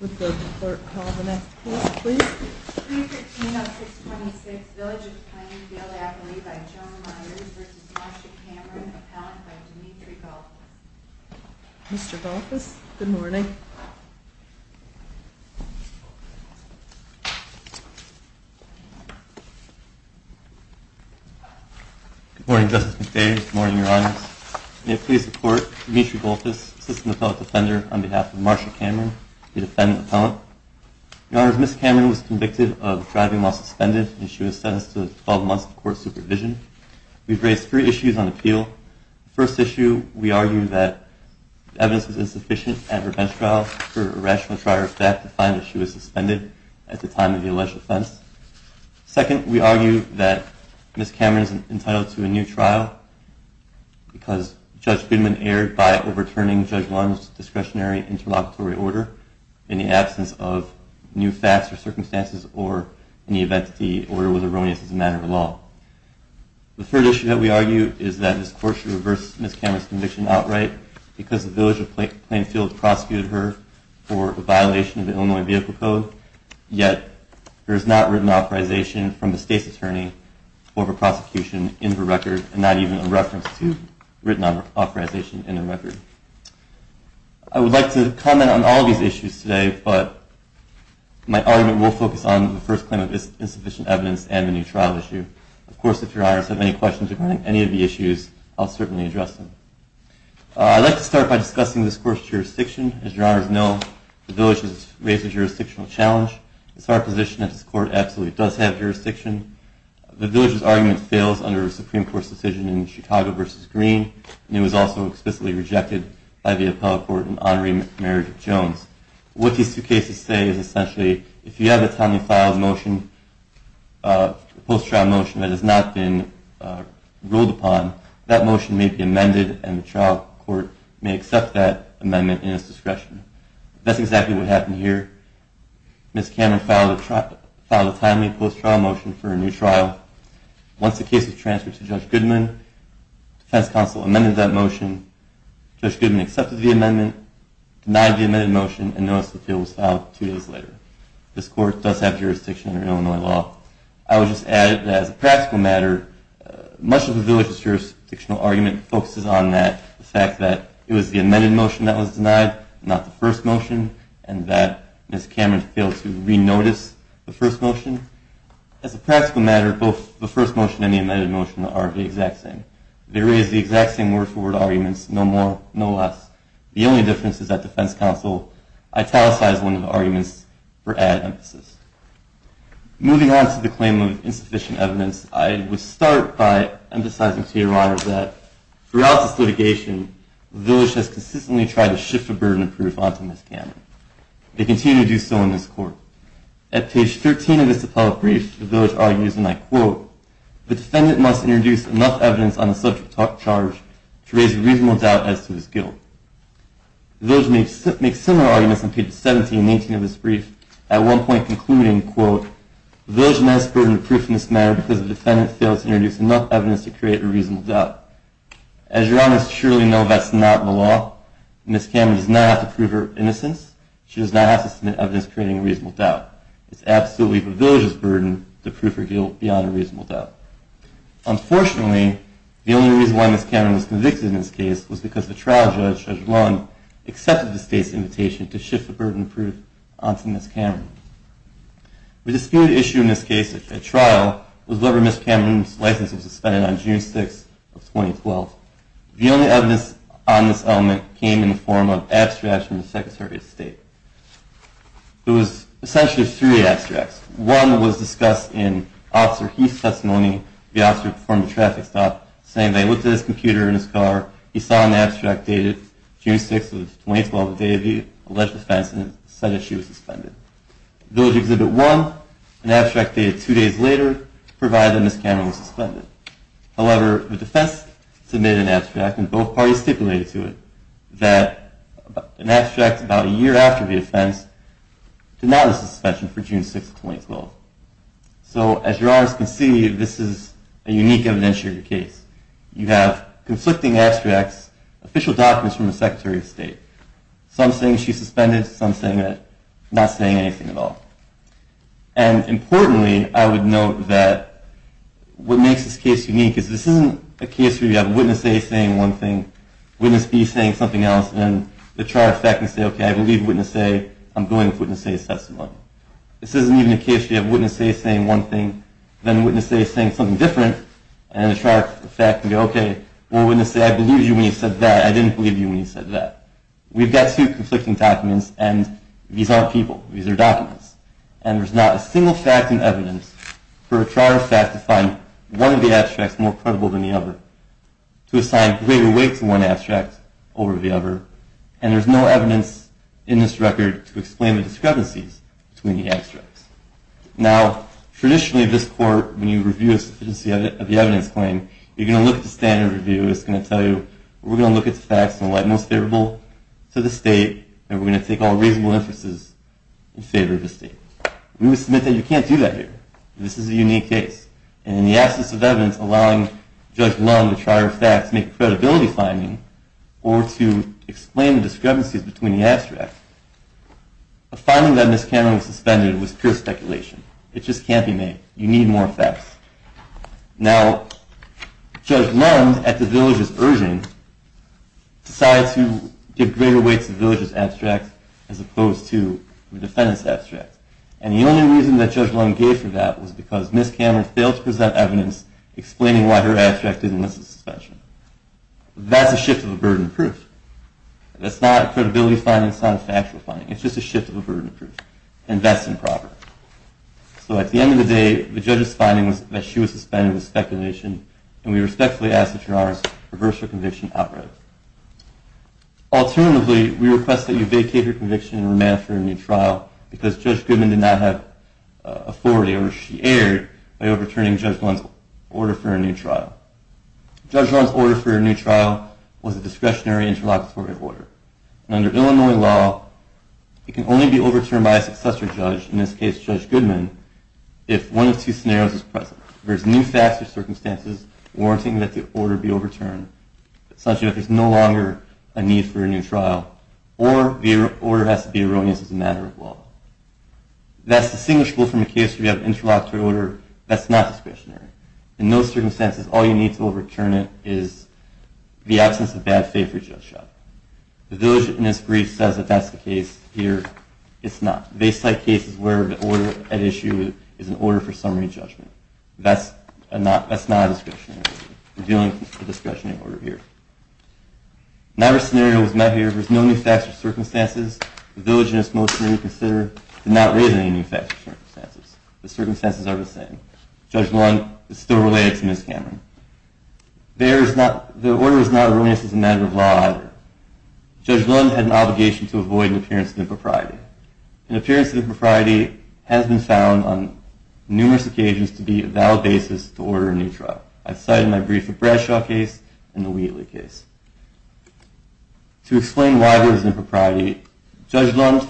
Would the clerk call the next court, please? 313-0626, Village of Plainfield, Appellee by Joan Myers v. Marsha Cameron, Appellant by Dimitri Goltis Mr. Goltis, good morning. Good morning, Justice McDavid. Good morning, Your Honor. May it please the Court, Dimitri Goltis, Assistant Appellate Defender, on behalf of Marsha Cameron, the Defendant Appellant. Your Honor, Ms. Cameron was convicted of driving while suspended, and she was sentenced to 12 months of court supervision. We've raised three issues on appeal. The first issue, we argue that evidence is insufficient at her bench trial for a rational trial or fact to find that she was suspended at the time of the alleged offense. Second, we argue that Ms. Cameron is entitled to a new trial because Judge Goodman erred by overturning Judge Lund's discretionary interlocutory order in the absence of new facts or circumstances, or in the event that the order was erroneous as a matter of law. The third issue that we argue is that this Court should reverse Ms. Cameron's conviction outright because the Village of Plainfield prosecuted her for a violation of the Illinois Vehicle Code, yet there is not written authorization from the State's Attorney for the prosecution in the record, and not even a reference to written authorization in the record. I would like to comment on all of these issues today, but my argument will focus on the first claim of insufficient evidence and the new trial issue. Of course, if Your Honors have any questions regarding any of the issues, I'll certainly address them. I'd like to start by discussing this Court's jurisdiction. As Your Honors know, the Village has raised a jurisdictional challenge. It's our position that this Court absolutely does have jurisdiction. The Village's argument fails under a Supreme Court decision in Chicago v. Green, and it was also explicitly rejected by the Appellate Court in Honorary Mary Jones. What these two cases say is essentially, if you have a timely filed motion, a post-trial motion that has not been ruled upon, that motion may be amended and the trial court may accept that amendment in its discretion. That's exactly what happened here. Ms. Cameron filed a timely post-trial motion for a new trial. Once the case was transferred to Judge Goodman, the Defense Counsel amended that motion. Judge Goodman accepted the amendment, denied the amended motion, and noticed that it was filed two days later. This Court does have jurisdiction under Illinois law. I would just add that as a practical matter, much of the Village's jurisdictional argument focuses on that, the fact that it was the amended motion that was denied, not the first motion, and that Ms. Cameron failed to re-notice the first motion. As a practical matter, both the first motion and the amended motion are the exact same. They raise the exact same word-for-word arguments, no more, no less. The only difference is that Defense Counsel italicized one of the arguments for added emphasis. Moving on to the claim of insufficient evidence, I would start by emphasizing to your honor that throughout this litigation, the Village has consistently tried to shift the burden of proof onto Ms. Cameron. They continue to do so in this Court. At page 13 of this appellate brief, the Village argues, and I quote, the defendant must introduce enough evidence on the subject charge to raise a reasonable doubt as to his guilt. The Village makes similar arguments on pages 17 and 18 of this brief, at one point concluding, quote, the Village now has the burden of proof in this matter because the defendant failed to introduce enough evidence to create a reasonable doubt. As your honors surely know, that's not the law. Ms. Cameron does not have to prove her innocence. She does not have to submit evidence creating a reasonable doubt. It's absolutely the Village's burden to prove her guilt beyond a reasonable doubt. Unfortunately, the only reason why Ms. Cameron was convicted in this case was because the trial judge, Judge Lund, accepted the State's invitation to shift the burden of proof onto Ms. Cameron. The disputed issue in this case at trial was whether Ms. Cameron's license was suspended on June 6 of 2012. The only evidence on this element came in the form of abstracts from the Secretary of State. It was essentially three abstracts. One was discussed in Officer Heath's testimony, the officer who performed the traffic stop, saying that he looked at his computer in his car, he saw an abstract dated June 6 of 2012, the day of the alleged offense, and it said that she was suspended. Village Exhibit 1, an abstract dated two days later, provided that Ms. Cameron was suspended. However, the defense submitted an abstract, and both parties stipulated to it, that an abstract about a year after the offense denied the suspension for June 6 of 2012. So, as your Honors can see, this is a unique evidence-sharing case. You have conflicting abstracts, official documents from the Secretary of State, some saying she's suspended, some saying that, not saying anything at all. And, importantly, I would note that what makes this case unique is this isn't a case where you have witness A saying one thing, witness B saying something else, and then the charge of fact can say, okay, I believe witness A, I'm going with witness A's testimony. This isn't even a case where you have witness A saying one thing, then witness A saying something different, and then the charge of fact can go, okay, well, witness A, I believed you when you said that, I didn't believe you when you said that. We've got two conflicting documents, and these aren't people. These are documents. And there's not a single fact in evidence for a charge of fact to find one of the abstracts more credible than the other, to assign greater weight to one abstract over the other, and there's no evidence in this record to explain the discrepancies between the abstracts. Now, traditionally, this court, when you review a sufficiency of the evidence claim, you're going to look at the standard review. It's going to tell you we're going to look at the facts and what's most favorable to the state, and we're going to take all reasonable inferences in favor of the state. We would submit that you can't do that here. This is a unique case, and in the absence of evidence allowing Judge Lund to charge of fact to make a credibility finding or to explain the discrepancies between the abstracts, a finding that Ms. Cameron suspended was pure speculation. It just can't be made. You need more facts. Now, Judge Lund, at the village's urging, decided to give greater weight to the village's abstracts as opposed to the defendant's abstracts, and the only reason that Judge Lund gave for that was because Ms. Cameron failed to present evidence explaining why her abstract didn't list the suspension. That's a shift of a burden of proof. That's not a credibility finding. That's not a factual finding. It's just a shift of a burden of proof, and that's improper. So at the end of the day, the judge's finding was that she was suspended with speculation, and we respectfully ask that Your Honors reverse her conviction outright. Alternatively, we request that you vacate your conviction and remand it for a new trial because Judge Goodman did not have authority, or she erred, by overturning Judge Lund's order for a new trial. Judge Lund's order for a new trial was a discretionary interlocutory order, and under Illinois law, it can only be overturned by a successor judge, in this case Judge Goodman, if one of two scenarios is present. There's new facts or circumstances warranting that the order be overturned, such that there's no longer a need for a new trial, or the order has to be erroneous as a matter of law. That's distinguishable from a case where you have an interlocutory order that's not discretionary. In those circumstances, all you need to overturn it is the absence of bad faith for Judge Schott. The diligentness brief says that that's the case here. It's not. The baseline case is where the order at issue is an order for summary judgment. That's not a discretionary issue. We're dealing with a discretionary order here. In either scenario that was met here, there's no new facts or circumstances. The diligentness motion that we consider did not raise any new facts or circumstances. The circumstances are the same. Judge Lund is still related to Ms. Cameron. The order is not erroneous as a matter of law either. Judge Lund had an obligation to avoid an appearance of impropriety. An appearance of impropriety has been found on numerous occasions to be a valid basis to order a new trial. I've cited in my brief the Bradshaw case and the Wheatley case. To explain why there was impropriety, Judge Lund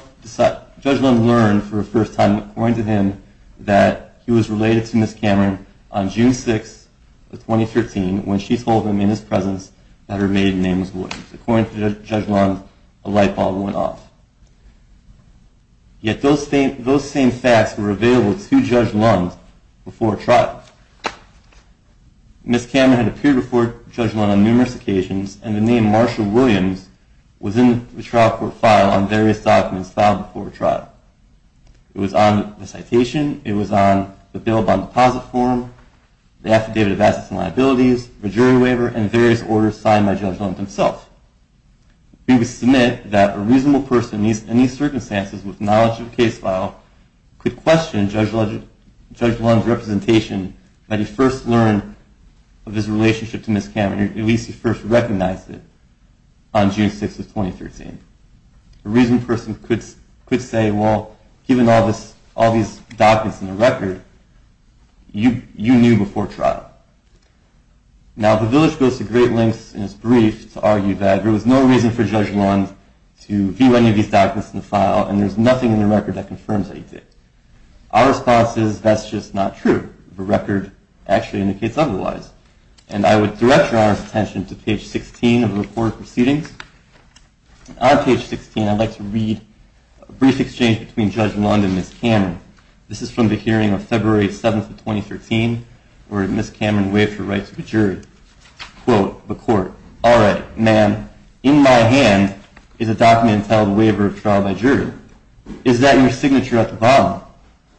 learned for the first time, according to him, that he was related to Ms. Cameron on June 6, 2013, when she told him in his presence that her maiden name was Williams. According to Judge Lund, a light bulb went off. Yet those same facts were available to Judge Lund before a trial. Ms. Cameron had appeared before Judge Lund on numerous occasions, and the name Marshall Williams was in the trial court file on various documents filed before a trial. It was on the citation. It was on the bail bond deposit form, the affidavit of assets and liabilities, the jury waiver, and various orders signed by Judge Lund himself. We would submit that a reasonable person in these circumstances with knowledge of the case file could question Judge Lund's representation when he first learned of his relationship to Ms. Cameron, or at least he first recognized it, on June 6, 2013. A reasonable person could say, well, given all these documents in the record, you knew before trial. Now, the village goes to great lengths in its brief to argue that there was no reason for Judge Lund to view any of these documents in the file, and there's nothing in the record that confirms that he did. Our response is, that's just not true. The record actually indicates otherwise. And I would direct Your Honor's attention to page 16 of the recorded proceedings. On page 16, I'd like to read a brief exchange between Judge Lund and Ms. Cameron. This is from the hearing of February 7, 2013, where Ms. Cameron waived her right to the jury. Quote, the court, all right, ma'am, in my hand is a document entitled Waiver of Trial by Jury. Is that your signature at the bottom?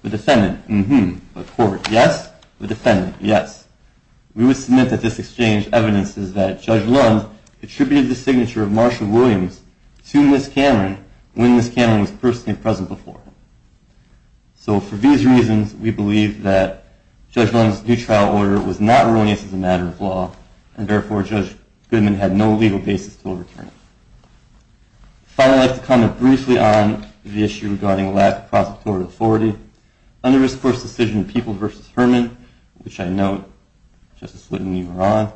The defendant, mm-hmm. The court, yes. The defendant, yes. We would submit that this exchange evidences that Judge Lund attributed the signature of Marshall Williams to Ms. Cameron when Ms. Cameron was personally present before him. So for these reasons, we believe that Judge Lund's new trial order was not erroneous as a matter of law, and therefore Judge Goodman had no legal basis to overturn it. Finally, I'd like to comment briefly on the issue regarding lack of prosecutorial authority. Under this court's decision, Peoples v. Herman, which I note, Justice Whitten, you were on.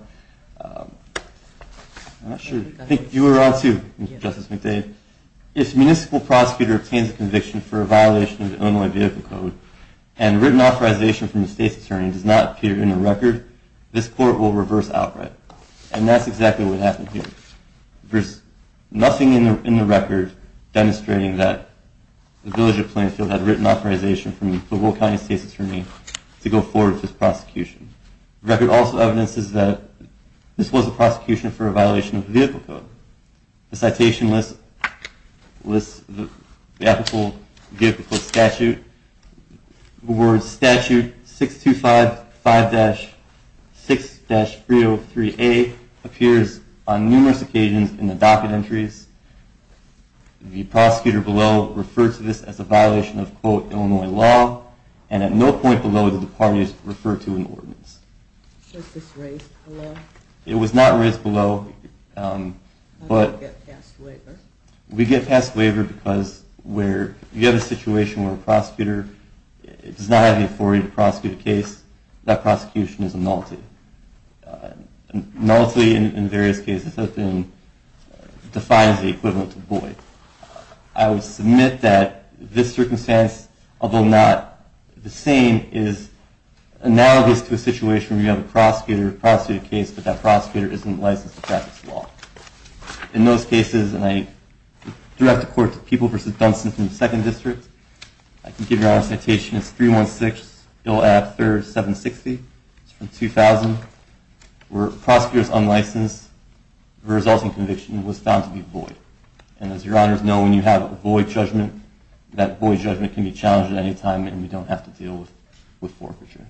I think you were on too, Justice McDade. If a municipal prosecutor obtains a conviction for a violation of the Illinois Vehicle Code and written authorization from the state's attorney does not appear in the record, this court will reverse outright. And that's exactly what happened here. There's nothing in the record demonstrating that the village of Plainfield had written authorization from the Pueblo County State's attorney to go forward with this prosecution. The record also evidences that this was a prosecution for a violation of the Vehicle Code. The citation list lists the applicable statute. The word statute 6255-6-303A appears on numerous occasions in the docket entries. The prosecutor below referred to this as a violation of quote Illinois law, and at no point below did the parties refer to an ordinance. Was this raised below? It was not raised below, but we get passed waiver because where you have a situation where a prosecutor does not have the authority to prosecute a case, that prosecution is annulled. Annullity in various cases has been defined as the equivalent of void. I would submit that this circumstance, although not the same, is analogous to a situation where you have a prosecutor prosecute a case, but that prosecutor isn't licensed to practice the law. In those cases, and I direct the court to People v. Dunstan from the 2nd District, I can give you our citation. It's 316, Bill AB-3760. It's from 2000. Where a prosecutor is unlicensed, the resulting conviction was found to be void. And as your honors know, when you have a void judgment, that void judgment can be challenged at any time and we don't have to deal with forfeiture.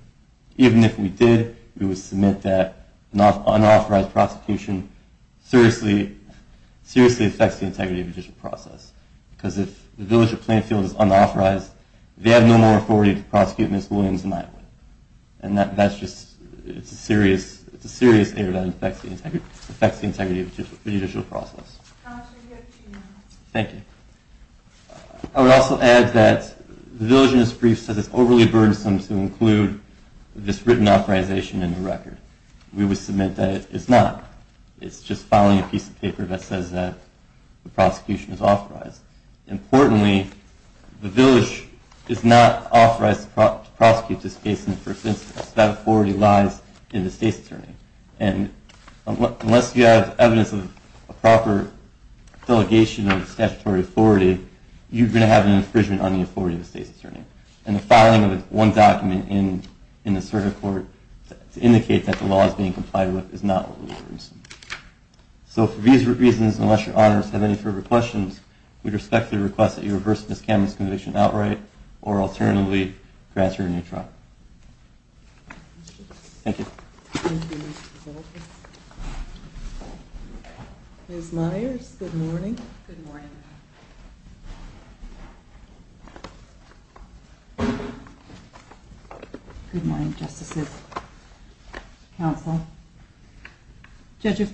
Even if we did, we would submit that unauthorized prosecution seriously affects the integrity of the judicial process. Because if the village of Plainfield is unauthorized, they have no more authority to prosecute Ms. Williams and I. And that's just, it's a serious error that affects the integrity of the judicial process. Thank you. I would also add that the village in this brief says it's overly burdensome to include this written authorization in the record. We would submit that it's not. It's just filing a piece of paper that says that the prosecution is authorized. Importantly, the village is not authorized to prosecute this case in the first instance. That authority lies in the state's attorney. And unless you have evidence of a proper delegation of statutory authority, you're going to have an infringement on the authority of the state's attorney. And the filing of one document in the circuit court to indicate that the law is being complied with is not overly burdensome. So for these reasons, unless your honors have any further questions, we respectfully request that you reverse Ms. Camden's conviction outright, or alternatively, transfer her to a new trial. Thank you. Thank you, Mr. Zoltan. Ms. Myers, good morning. Good morning. Good morning, Justices. Counsel. Judges,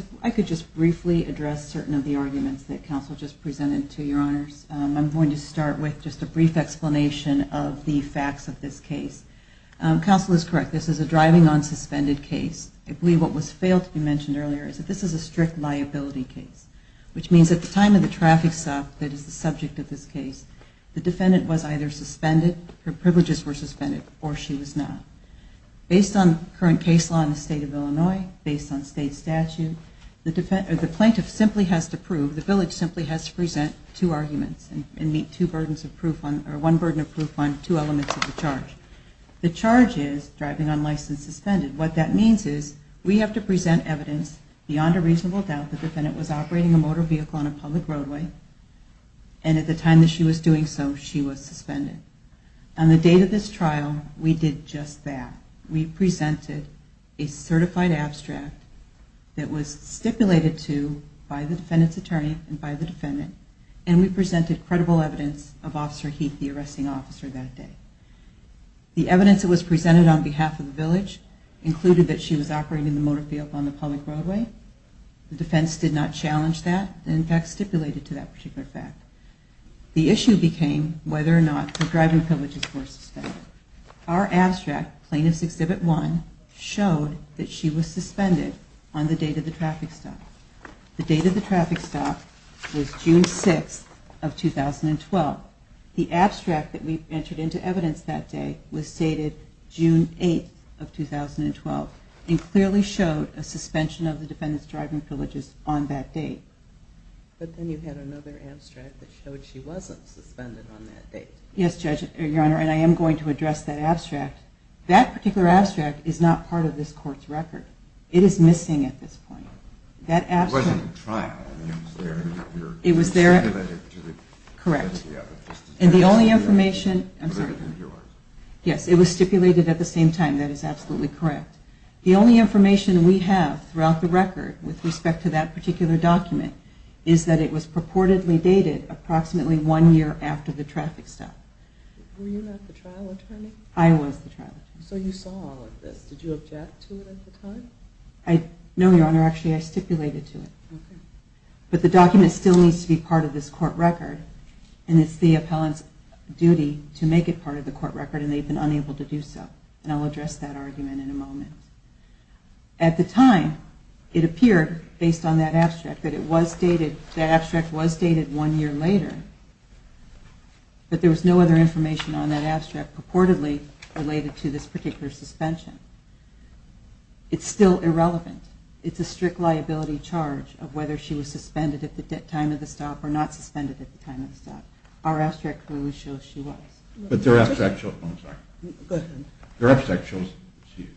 if I could just briefly address certain of the arguments that counsel just presented to your honors. I'm going to start with just a brief explanation of the facts of this case. Counsel is correct. This is a driving on suspended case. I believe what was failed to be mentioned earlier is that this is a strict liability case, which means at the time of the traffic stop that is the subject of this case, the defendant was either suspended, her privileges were suspended, or she was not. Based on current case law in the state of Illinois, based on state statute, the plaintiff simply has to prove, the village simply has to present two arguments and meet one burden of proof on two elements of the charge. The charge is driving on license suspended. What that means is we have to present evidence beyond a reasonable doubt the defendant was operating a motor vehicle on a public roadway, and at the time that she was doing so, she was suspended. On the date of this trial, we did just that. We presented a certified abstract that was stipulated to by the defendant's attorney and by the defendant, and we presented credible evidence of Officer Heath, the arresting officer that day. The evidence that was presented on behalf of the village included that she was operating the motor vehicle on the public roadway. The defense did not challenge that, and in fact stipulated to that particular fact. The issue became whether or not the driving privileges were suspended. Our abstract, Plaintiff's Exhibit 1, showed that she was suspended on the date of the traffic stop. The date of the traffic stop was June 6th of 2012. The abstract that we entered into evidence that day was stated June 8th of 2012, and clearly showed a suspension of the defendant's driving privileges on that date. But then you had another abstract that showed she wasn't suspended on that date. Yes, Judge, Your Honor, and I am going to address that abstract. That particular abstract is not part of this court's record. It is missing at this point. It wasn't a trial. It was stipulated to the defendant. Correct. And the only information... Related to yours. Yes, it was stipulated at the same time. That is absolutely correct. The only information we have throughout the record with respect to that particular document is that it was purportedly dated approximately one year after the traffic stop. Were you not the trial attorney? I was the trial attorney. So you saw all of this. Did you object to it at the time? No, Your Honor, actually I stipulated to it. Okay. But the document still needs to be part of this court record, and it's the appellant's duty to make it part of the court record, and they've been unable to do so. And I'll address that argument in a moment. At the time, it appeared, based on that abstract, that the abstract was dated one year later, but there was no other information on that abstract purportedly related to this particular suspension. It's still irrelevant. It's a strict liability charge of whether she was suspended at the time of the stop or not suspended at the time of the stop. Our abstract clearly shows she was. But their abstract shows she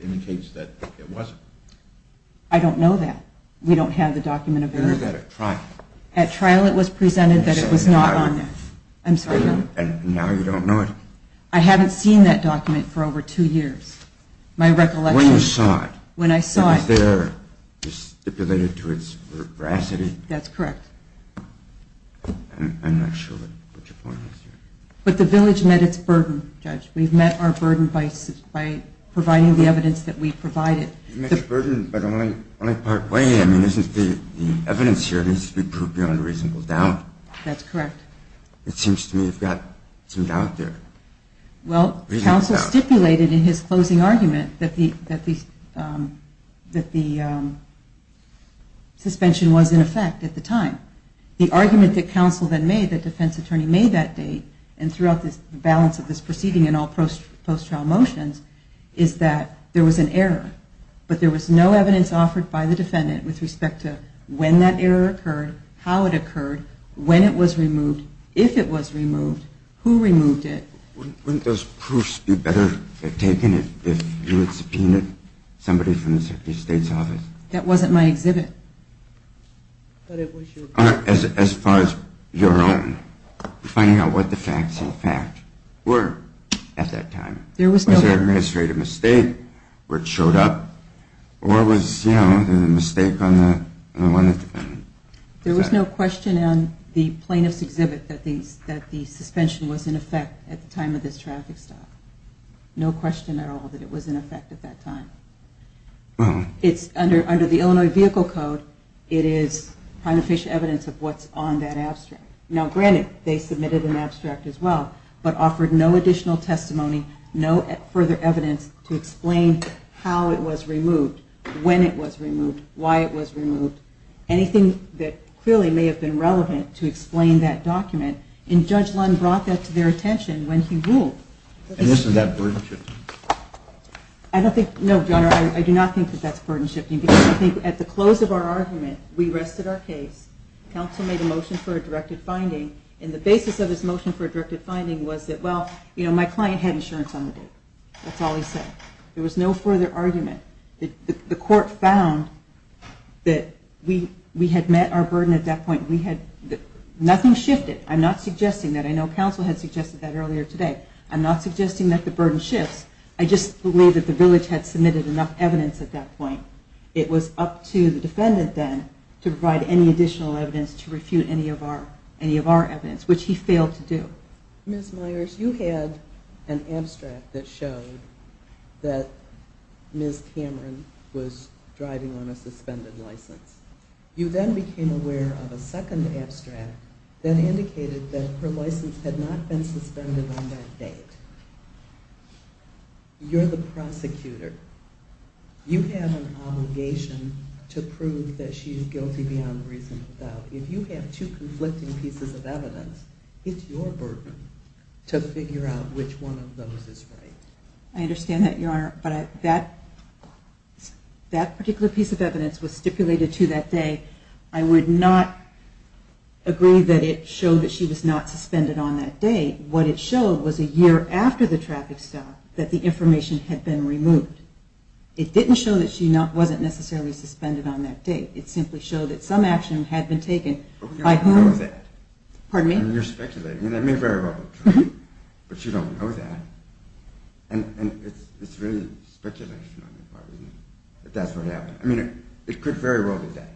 indicates that it wasn't. I don't know that. We don't have the document available. It was at a trial. At trial it was presented that it was not on there. And now you don't know it? I haven't seen that document for over two years. When you saw it? When I saw it. Was there stipulated to its veracity? That's correct. I'm not sure what your point is here. But the village met its burden, Judge. We've met our burden by providing the evidence that we provided. You've met your burden, but only part way. I mean, isn't the evidence here needs to be proved beyond reasonable doubt? That's correct. It seems to me you've got some doubt there. Well, counsel stipulated in his closing argument that the suspension was in effect at the time. The argument that counsel then made, that defense attorney made that date, and throughout the balance of this proceeding and all post-trial motions, is that there was an error. But there was no evidence offered by the defendant with respect to when that error occurred, how it occurred, when it was removed, if it was removed, who removed it. Wouldn't those proofs be better taken if you had subpoenaed somebody from the Secretary of State's office? That wasn't my exhibit. As far as your own, finding out what the facts, in fact, were at that time. Was there an administrative mistake where it showed up? Or was, you know, there was a mistake on the one of the defendant? There was no question on the plaintiff's exhibit that the suspension was in effect at the time of this traffic stop. No question at all that it was in effect at that time. Under the Illinois Vehicle Code, it is primeficient evidence of what's on that abstract. Now granted, they submitted an abstract as well, but offered no additional testimony, no further evidence to explain how it was removed, when it was removed, why it was removed. Anything that clearly may have been relevant to explain that document, and Judge Lund brought that to their attention when he ruled. And isn't that burden shifting? I don't think, no, Your Honor, I do not think that that's burden shifting, because I think at the close of our argument, we rested our case, counsel made a motion for a directed finding, and the basis of his motion for a directed finding was that, well, you know, my client had insurance on the date. That's all he said. There was no further argument. The court found that we had met our burden at that point. Nothing shifted. I'm not suggesting that. I know counsel had suggested that earlier today. I'm not suggesting that the burden shifts. I just believe that the village had submitted enough evidence at that point. It was up to the defendant then to provide any additional evidence to refute any of our evidence, which he failed to do. Ms. Myers, you had an abstract that showed that Ms. Cameron was driving on a suspended license. You then became aware of a second abstract that indicated that her license had not been suspended on that date. You're the prosecutor. You have an obligation to prove that she's guilty beyond reason of doubt. If you have two conflicting pieces of evidence, it's your burden to figure out which one of those is right. I understand that, Your Honor, but that particular piece of evidence was stipulated to that day. I would not agree that it showed that she was not suspended on that date. What it showed was a year after the traffic stop that the information had been removed. It didn't show that she wasn't necessarily suspended on that date. It simply showed that some action had been taken by who? But we don't know that. Pardon me? I mean, you're speculating, and that may very well be true. But you don't know that. And it's really speculation on your part, isn't it, that that's what happened. I mean, it could very well be that.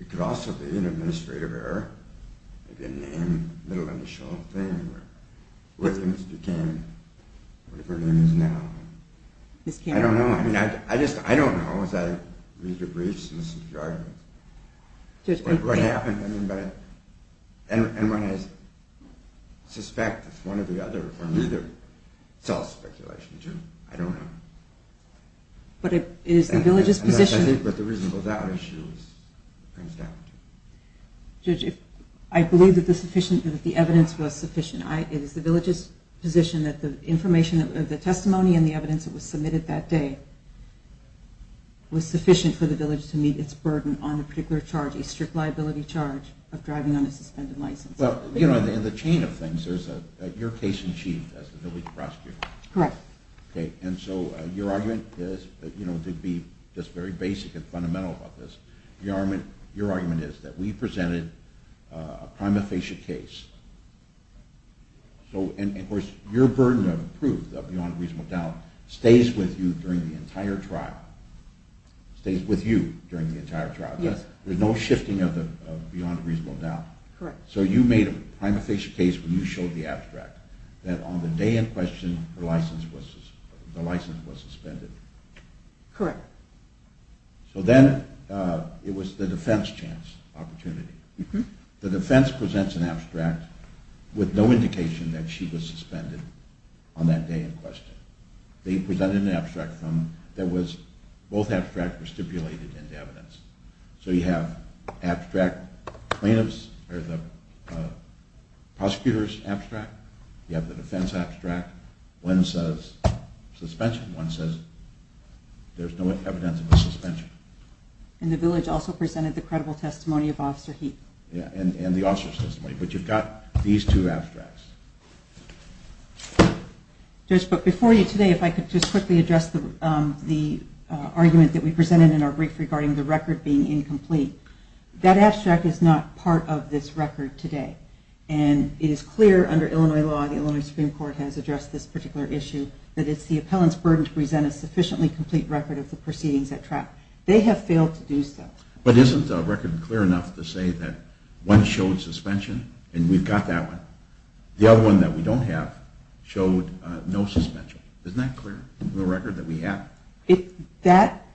It could also be an administrative error, maybe a name, a little initial thing, where things became whatever her name is now. Ms. Cameron? I don't know. I mean, I just don't know, as I read your briefs and listen to your arguments, what happened. And when I suspect it's one or the other, for me, it's all speculation, too. I don't know. But it is the village's position that the reason for that issue comes down to. Judge, I believe that the evidence was sufficient. It is the village's position that the testimony and the evidence that was submitted that day was sufficient for the village to meet its burden on a particular charge, a strict liability charge of driving on a suspended license. Well, you know, in the chain of things, there's your case in chief as the village prosecutor. Correct. And so your argument is, to be just very basic and fundamental about this, your argument is that we presented a prima facie case. And, of course, your burden of proof of beyond reasonable doubt stays with you during the entire trial. It stays with you during the entire trial. Yes. There's no shifting of the beyond reasonable doubt. Correct. So you made a prima facie case when you showed the abstract, that on the day in question the license was suspended. Correct. So then it was the defense chance opportunity. The defense presents an abstract with no indication that she was suspended on that day in question. They presented an abstract that was, both abstracts were stipulated into evidence. So you have abstract plaintiffs, or the prosecutor's abstract. You have the defense abstract. One says suspension. One says there's no evidence of a suspension. And the village also presented the credible testimony of Officer Heath. Yeah, and the officer's testimony. But you've got these two abstracts. Judge, but before you today, if I could just quickly address the argument that we presented in our brief regarding the record being incomplete. That abstract is not part of this record today. And it is clear under Illinois law, the Illinois Supreme Court has addressed this particular issue, that it's the appellant's burden to present a sufficiently complete record of the proceedings at trial. They have failed to do so. But isn't the record clear enough to say that one showed suspension, and we've got that one? The other one that we don't have showed no suspension. Isn't that clear, the record that we have? That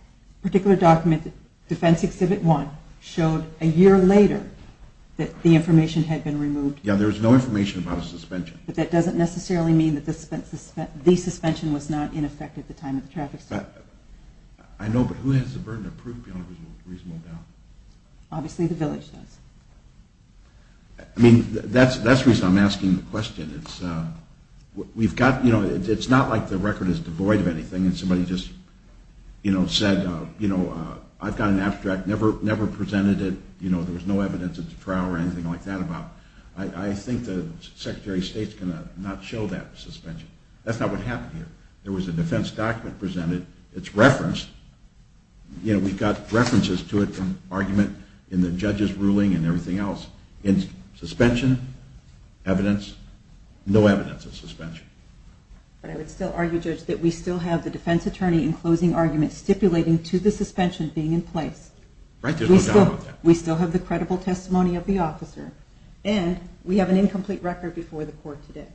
particular document, Defense Exhibit 1, showed a year later that the information had been removed. Yeah, there was no information about a suspension. But that doesn't necessarily mean that the suspension was not in effect at the time of the traffic stop. I know, but who has the burden to prove beyond a reasonable doubt? Obviously the village does. I mean, that's the reason I'm asking the question. It's not like the record is devoid of anything and somebody just said, you know, I've got an abstract, never presented it, there was no evidence at the trial or anything like that about it. I think the Secretary of State's going to not show that suspension. That's not what happened here. There was a defense document presented. It's referenced. We've got references to it from argument in the judge's ruling and everything else. Suspension, evidence, no evidence of suspension. But I would still argue, Judge, that we still have the defense attorney in closing argument stipulating to the suspension being in place. Right, there's no doubt about that. We still have the credible testimony of the officer. And we have an incomplete record before the court today.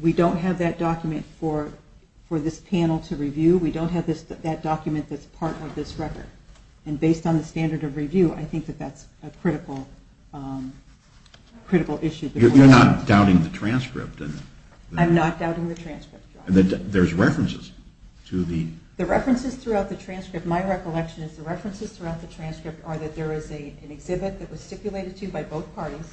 We don't have that document for this panel to review. We don't have that document that's part of this record. And based on the standard of review, I think that that's a critical issue. You're not doubting the transcript? I'm not doubting the transcript, Judge. There's references to the? The references throughout the transcript, my recollection is the references throughout the transcript are that there is an exhibit that was stipulated to by both parties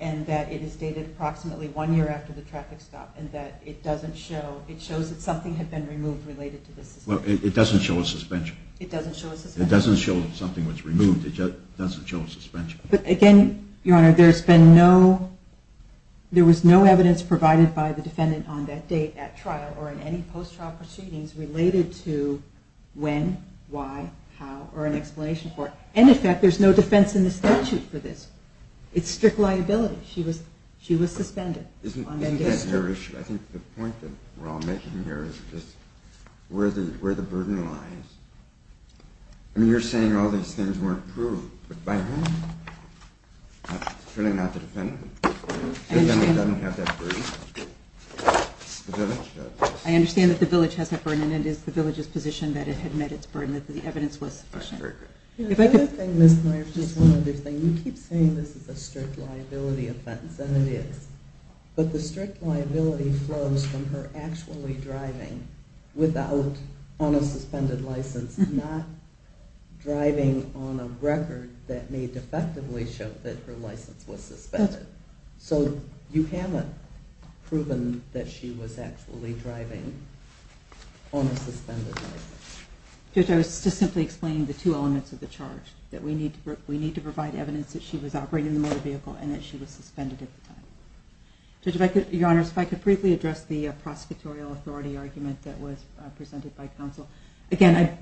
and that it is dated approximately one year after the traffic stop and that it doesn't show, it shows that something had been removed related to the suspension. It doesn't show a suspension? It doesn't show a suspension. It doesn't show something was removed. It doesn't show a suspension. But again, Your Honor, there's been no, there was no evidence provided by the defendant on that date at trial or in any post-trial proceedings related to when, why, how, or an explanation for it. And in fact, there's no defense in the statute for this. It's strict liability. She was suspended. Isn't that your issue? I think the point that we're all making here is just where the burden lies. I mean, you're saying all these things weren't proved, but by whom? Certainly not the defendant. The defendant doesn't have that burden. The village does. I understand that the village has that burden and it is the village's position that it had met its burden, that the evidence was sufficient. That's very good. If I could? One other thing, Ms. Myers, just one other thing. You keep saying this is a strict liability offense, and it is. But the strict liability flows from her actually driving without, on a suspended license, not driving on a record that may defectively show that her license was suspended. So you haven't proven that she was actually driving on a suspended license. Judge, I was just simply explaining the two elements of the charge, that we need to provide evidence that she was operating the motor vehicle and that she was suspended at the time. Your Honors, if I could briefly address the prosecutorial authority argument that was presented by counsel. Again,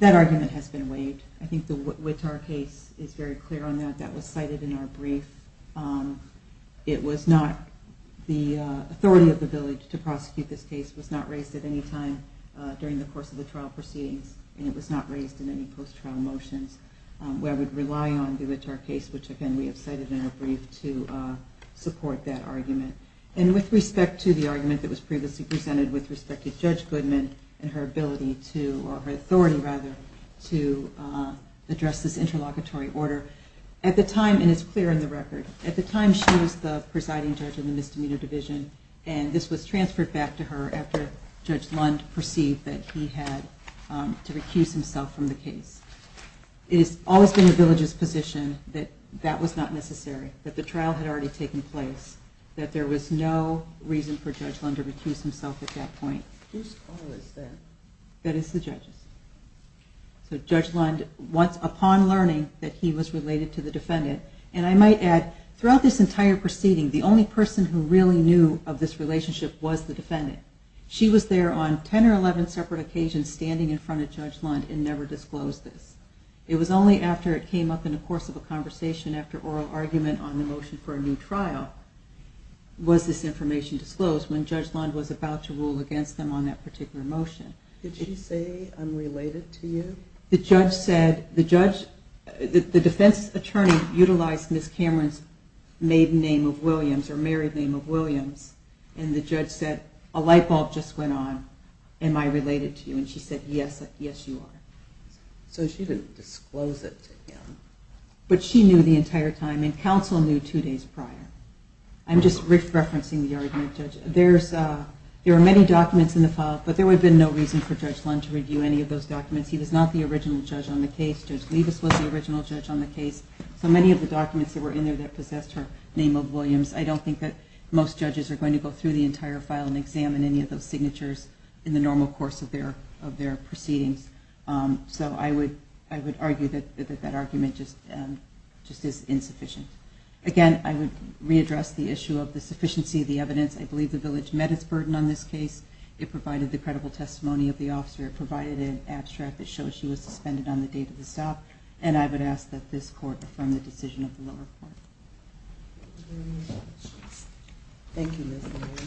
that argument has been waived. I think the Wittar case is very clear on that. That was cited in our brief. The authority of the village to prosecute this case was not raised at any time during the course of the trial proceedings, and it was not raised in any post-trial motions where I would rely on the Wittar case, which again we have cited in our brief, to support that argument. And with respect to the argument that was previously presented with respect to Judge Goodman and her ability to, or her authority rather, to address this interlocutory order, at the time, and it's clear in the record, at the time she was the presiding judge of the Misdemeanor Division, and this was transferred back to her after Judge Lund perceived that he had to recuse himself from the case. It has always been the village's position that that was not necessary, that the trial had already taken place, that there was no reason for Judge Lund to recuse himself at that point. Whose call is that? That is the judge's. So Judge Lund, upon learning that he was related to the defendant, and I might add, throughout this entire proceeding, the only person who really knew of this relationship was the defendant. She was there on 10 or 11 separate occasions standing in front of Judge Lund and never disclosed this. It was only after it came up in the course of a conversation, after oral argument on the motion for a new trial, was this information disclosed when Judge Lund was about to rule against them on that particular motion. Did she say, I'm related to you? The defense attorney utilized Ms. Cameron's maiden name of Williams or married name of Williams, and the judge said, a light bulb just went on, am I related to you? And she said, yes, you are. So she didn't disclose it to him. But she knew the entire time, and counsel knew two days prior. I'm just re-referencing the argument. There are many documents in the file, but there would have been no reason for Judge Lund to review any of those documents. He was not the original judge on the case. Judge Levis was the original judge on the case. So many of the documents that were in there that possessed her name of Williams, I don't think that most judges are going to go through the entire file and examine any of those signatures in the normal course of their proceedings. So I would argue that that argument just is insufficient. Again, I would readdress the issue of the sufficiency of the evidence. I believe the village met its burden on this case. It provided the credible testimony of the officer. It provided an abstract that shows she was suspended on the date of the stop. And I would ask that this court affirm the decision of the lower court. Thank you, Ms. Levy.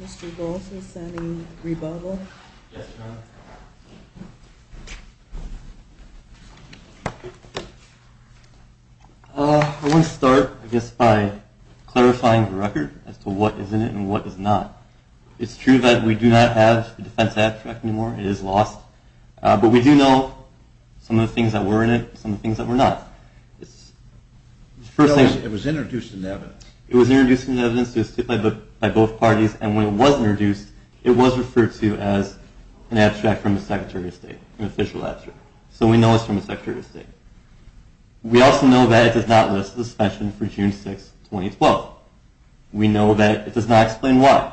Mr. Goss, is there any rebuttal? Yes, Your Honor. I want to start, I guess, by clarifying the record as to what is in it and what is not. It's true that we do not have the defense abstract anymore. It is lost. But we do know some of the things that were in it and some of the things that were not. It was introduced in the evidence. It was introduced in the evidence by both parties. And when it was introduced, it was referred to as an abstract from the Secretary of State, an official abstract. So we know it's from the Secretary of State. We also know that it does not list the suspension for June 6, 2012. We know that it does not explain why.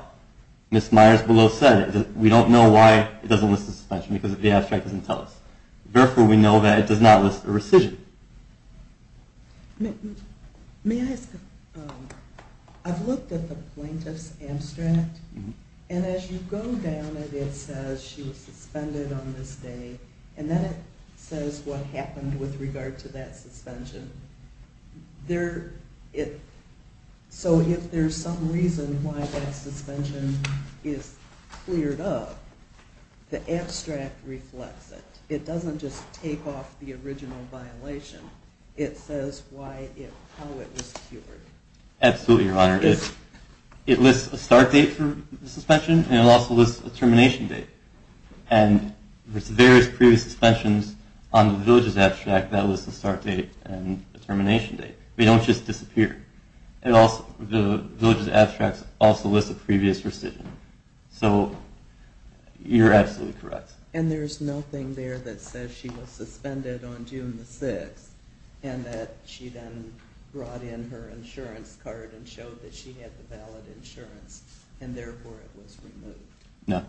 Ms. Myers-Below said it. We don't know why it doesn't list the suspension because the abstract doesn't tell us. Therefore, we know that it does not list a rescission. May I ask, I've looked at the plaintiff's abstract, and as you go down it, it says she was suspended on this day, and then it says what happened with regard to that suspension. So if there's some reason why that suspension is cleared up, the abstract reflects it. It doesn't just take off the original violation. It says how it was cured. Absolutely, Your Honor. It lists a start date for the suspension, and it also lists a termination date. And there's various previous suspensions on the village's abstract that list the start date and the termination date. They don't just disappear. The village's abstract also lists a previous rescission. So you're absolutely correct. And there's nothing there that says she was suspended on June 6 and that she then brought in her insurance card and showed that she had the valid insurance, and therefore it was removed. No.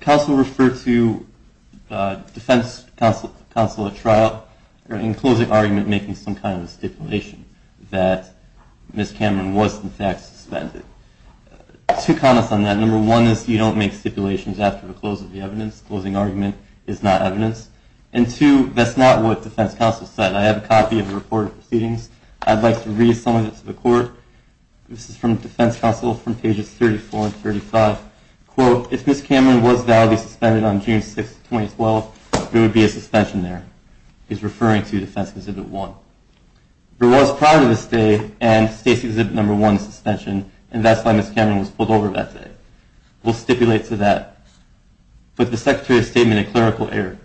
Counsel referred to defense counsel at trial in closing argument making some kind of stipulation that Ms. Cameron was in fact suspended. Two comments on that. Number one is you don't make stipulations after the close of the evidence. Closing argument is not evidence. And two, that's not what defense counsel said. I have a copy of the report of proceedings. I'd like to read some of it to the court. This is from defense counsel from pages 34 and 35. Quote, if Ms. Cameron was validly suspended on June 6, 2012, there would be a suspension there. He's referring to Defense Exhibit 1. There was prior to this day and State's Exhibit 1 suspension, and that's why Ms. Cameron was pulled over that day. We'll stipulate to that. But the Secretary of State made a clerical error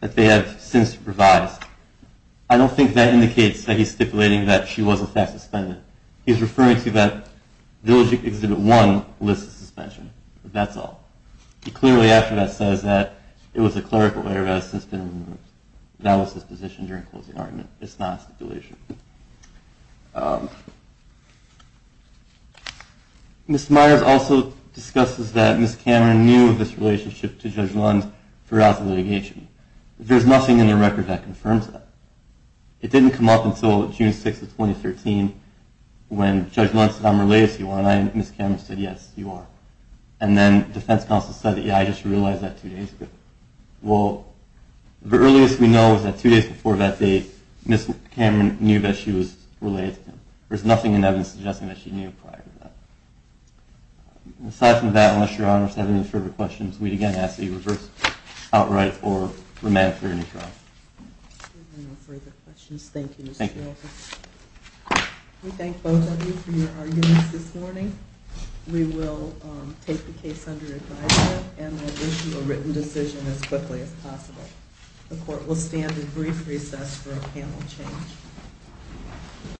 that they have since revised. I don't think that indicates that he's stipulating that she was in fact suspended. He's referring to that Village Exhibit 1 lists the suspension. That's all. He clearly after that says that it was a clerical error that has since been removed. That was his position during closing argument. It's not a stipulation. Ms. Myers also discusses that Ms. Cameron knew of this relationship to Judge Lund throughout the litigation. There's nothing in the record that confirms that. It didn't come up until June 6 of 2013 when Judge Lund said, I'm related to you, and Ms. Cameron said, yes, you are. And then defense counsel said, yeah, I just realized that two days ago. Well, the earliest we know is that two days before that date, Ms. Cameron knew that she was related to him. There's nothing in evidence suggesting that she knew prior to that. Aside from that, unless Your Honors have any further questions, we'd again ask that you reverse, outright, or remand for your new trial. There are no further questions. Thank you, Mr. Wilkins. Thank you. We thank both of you for your arguments this morning. We will take the case under advisement and will issue a written decision as quickly as possible. The court will stand at brief recess for a panel change.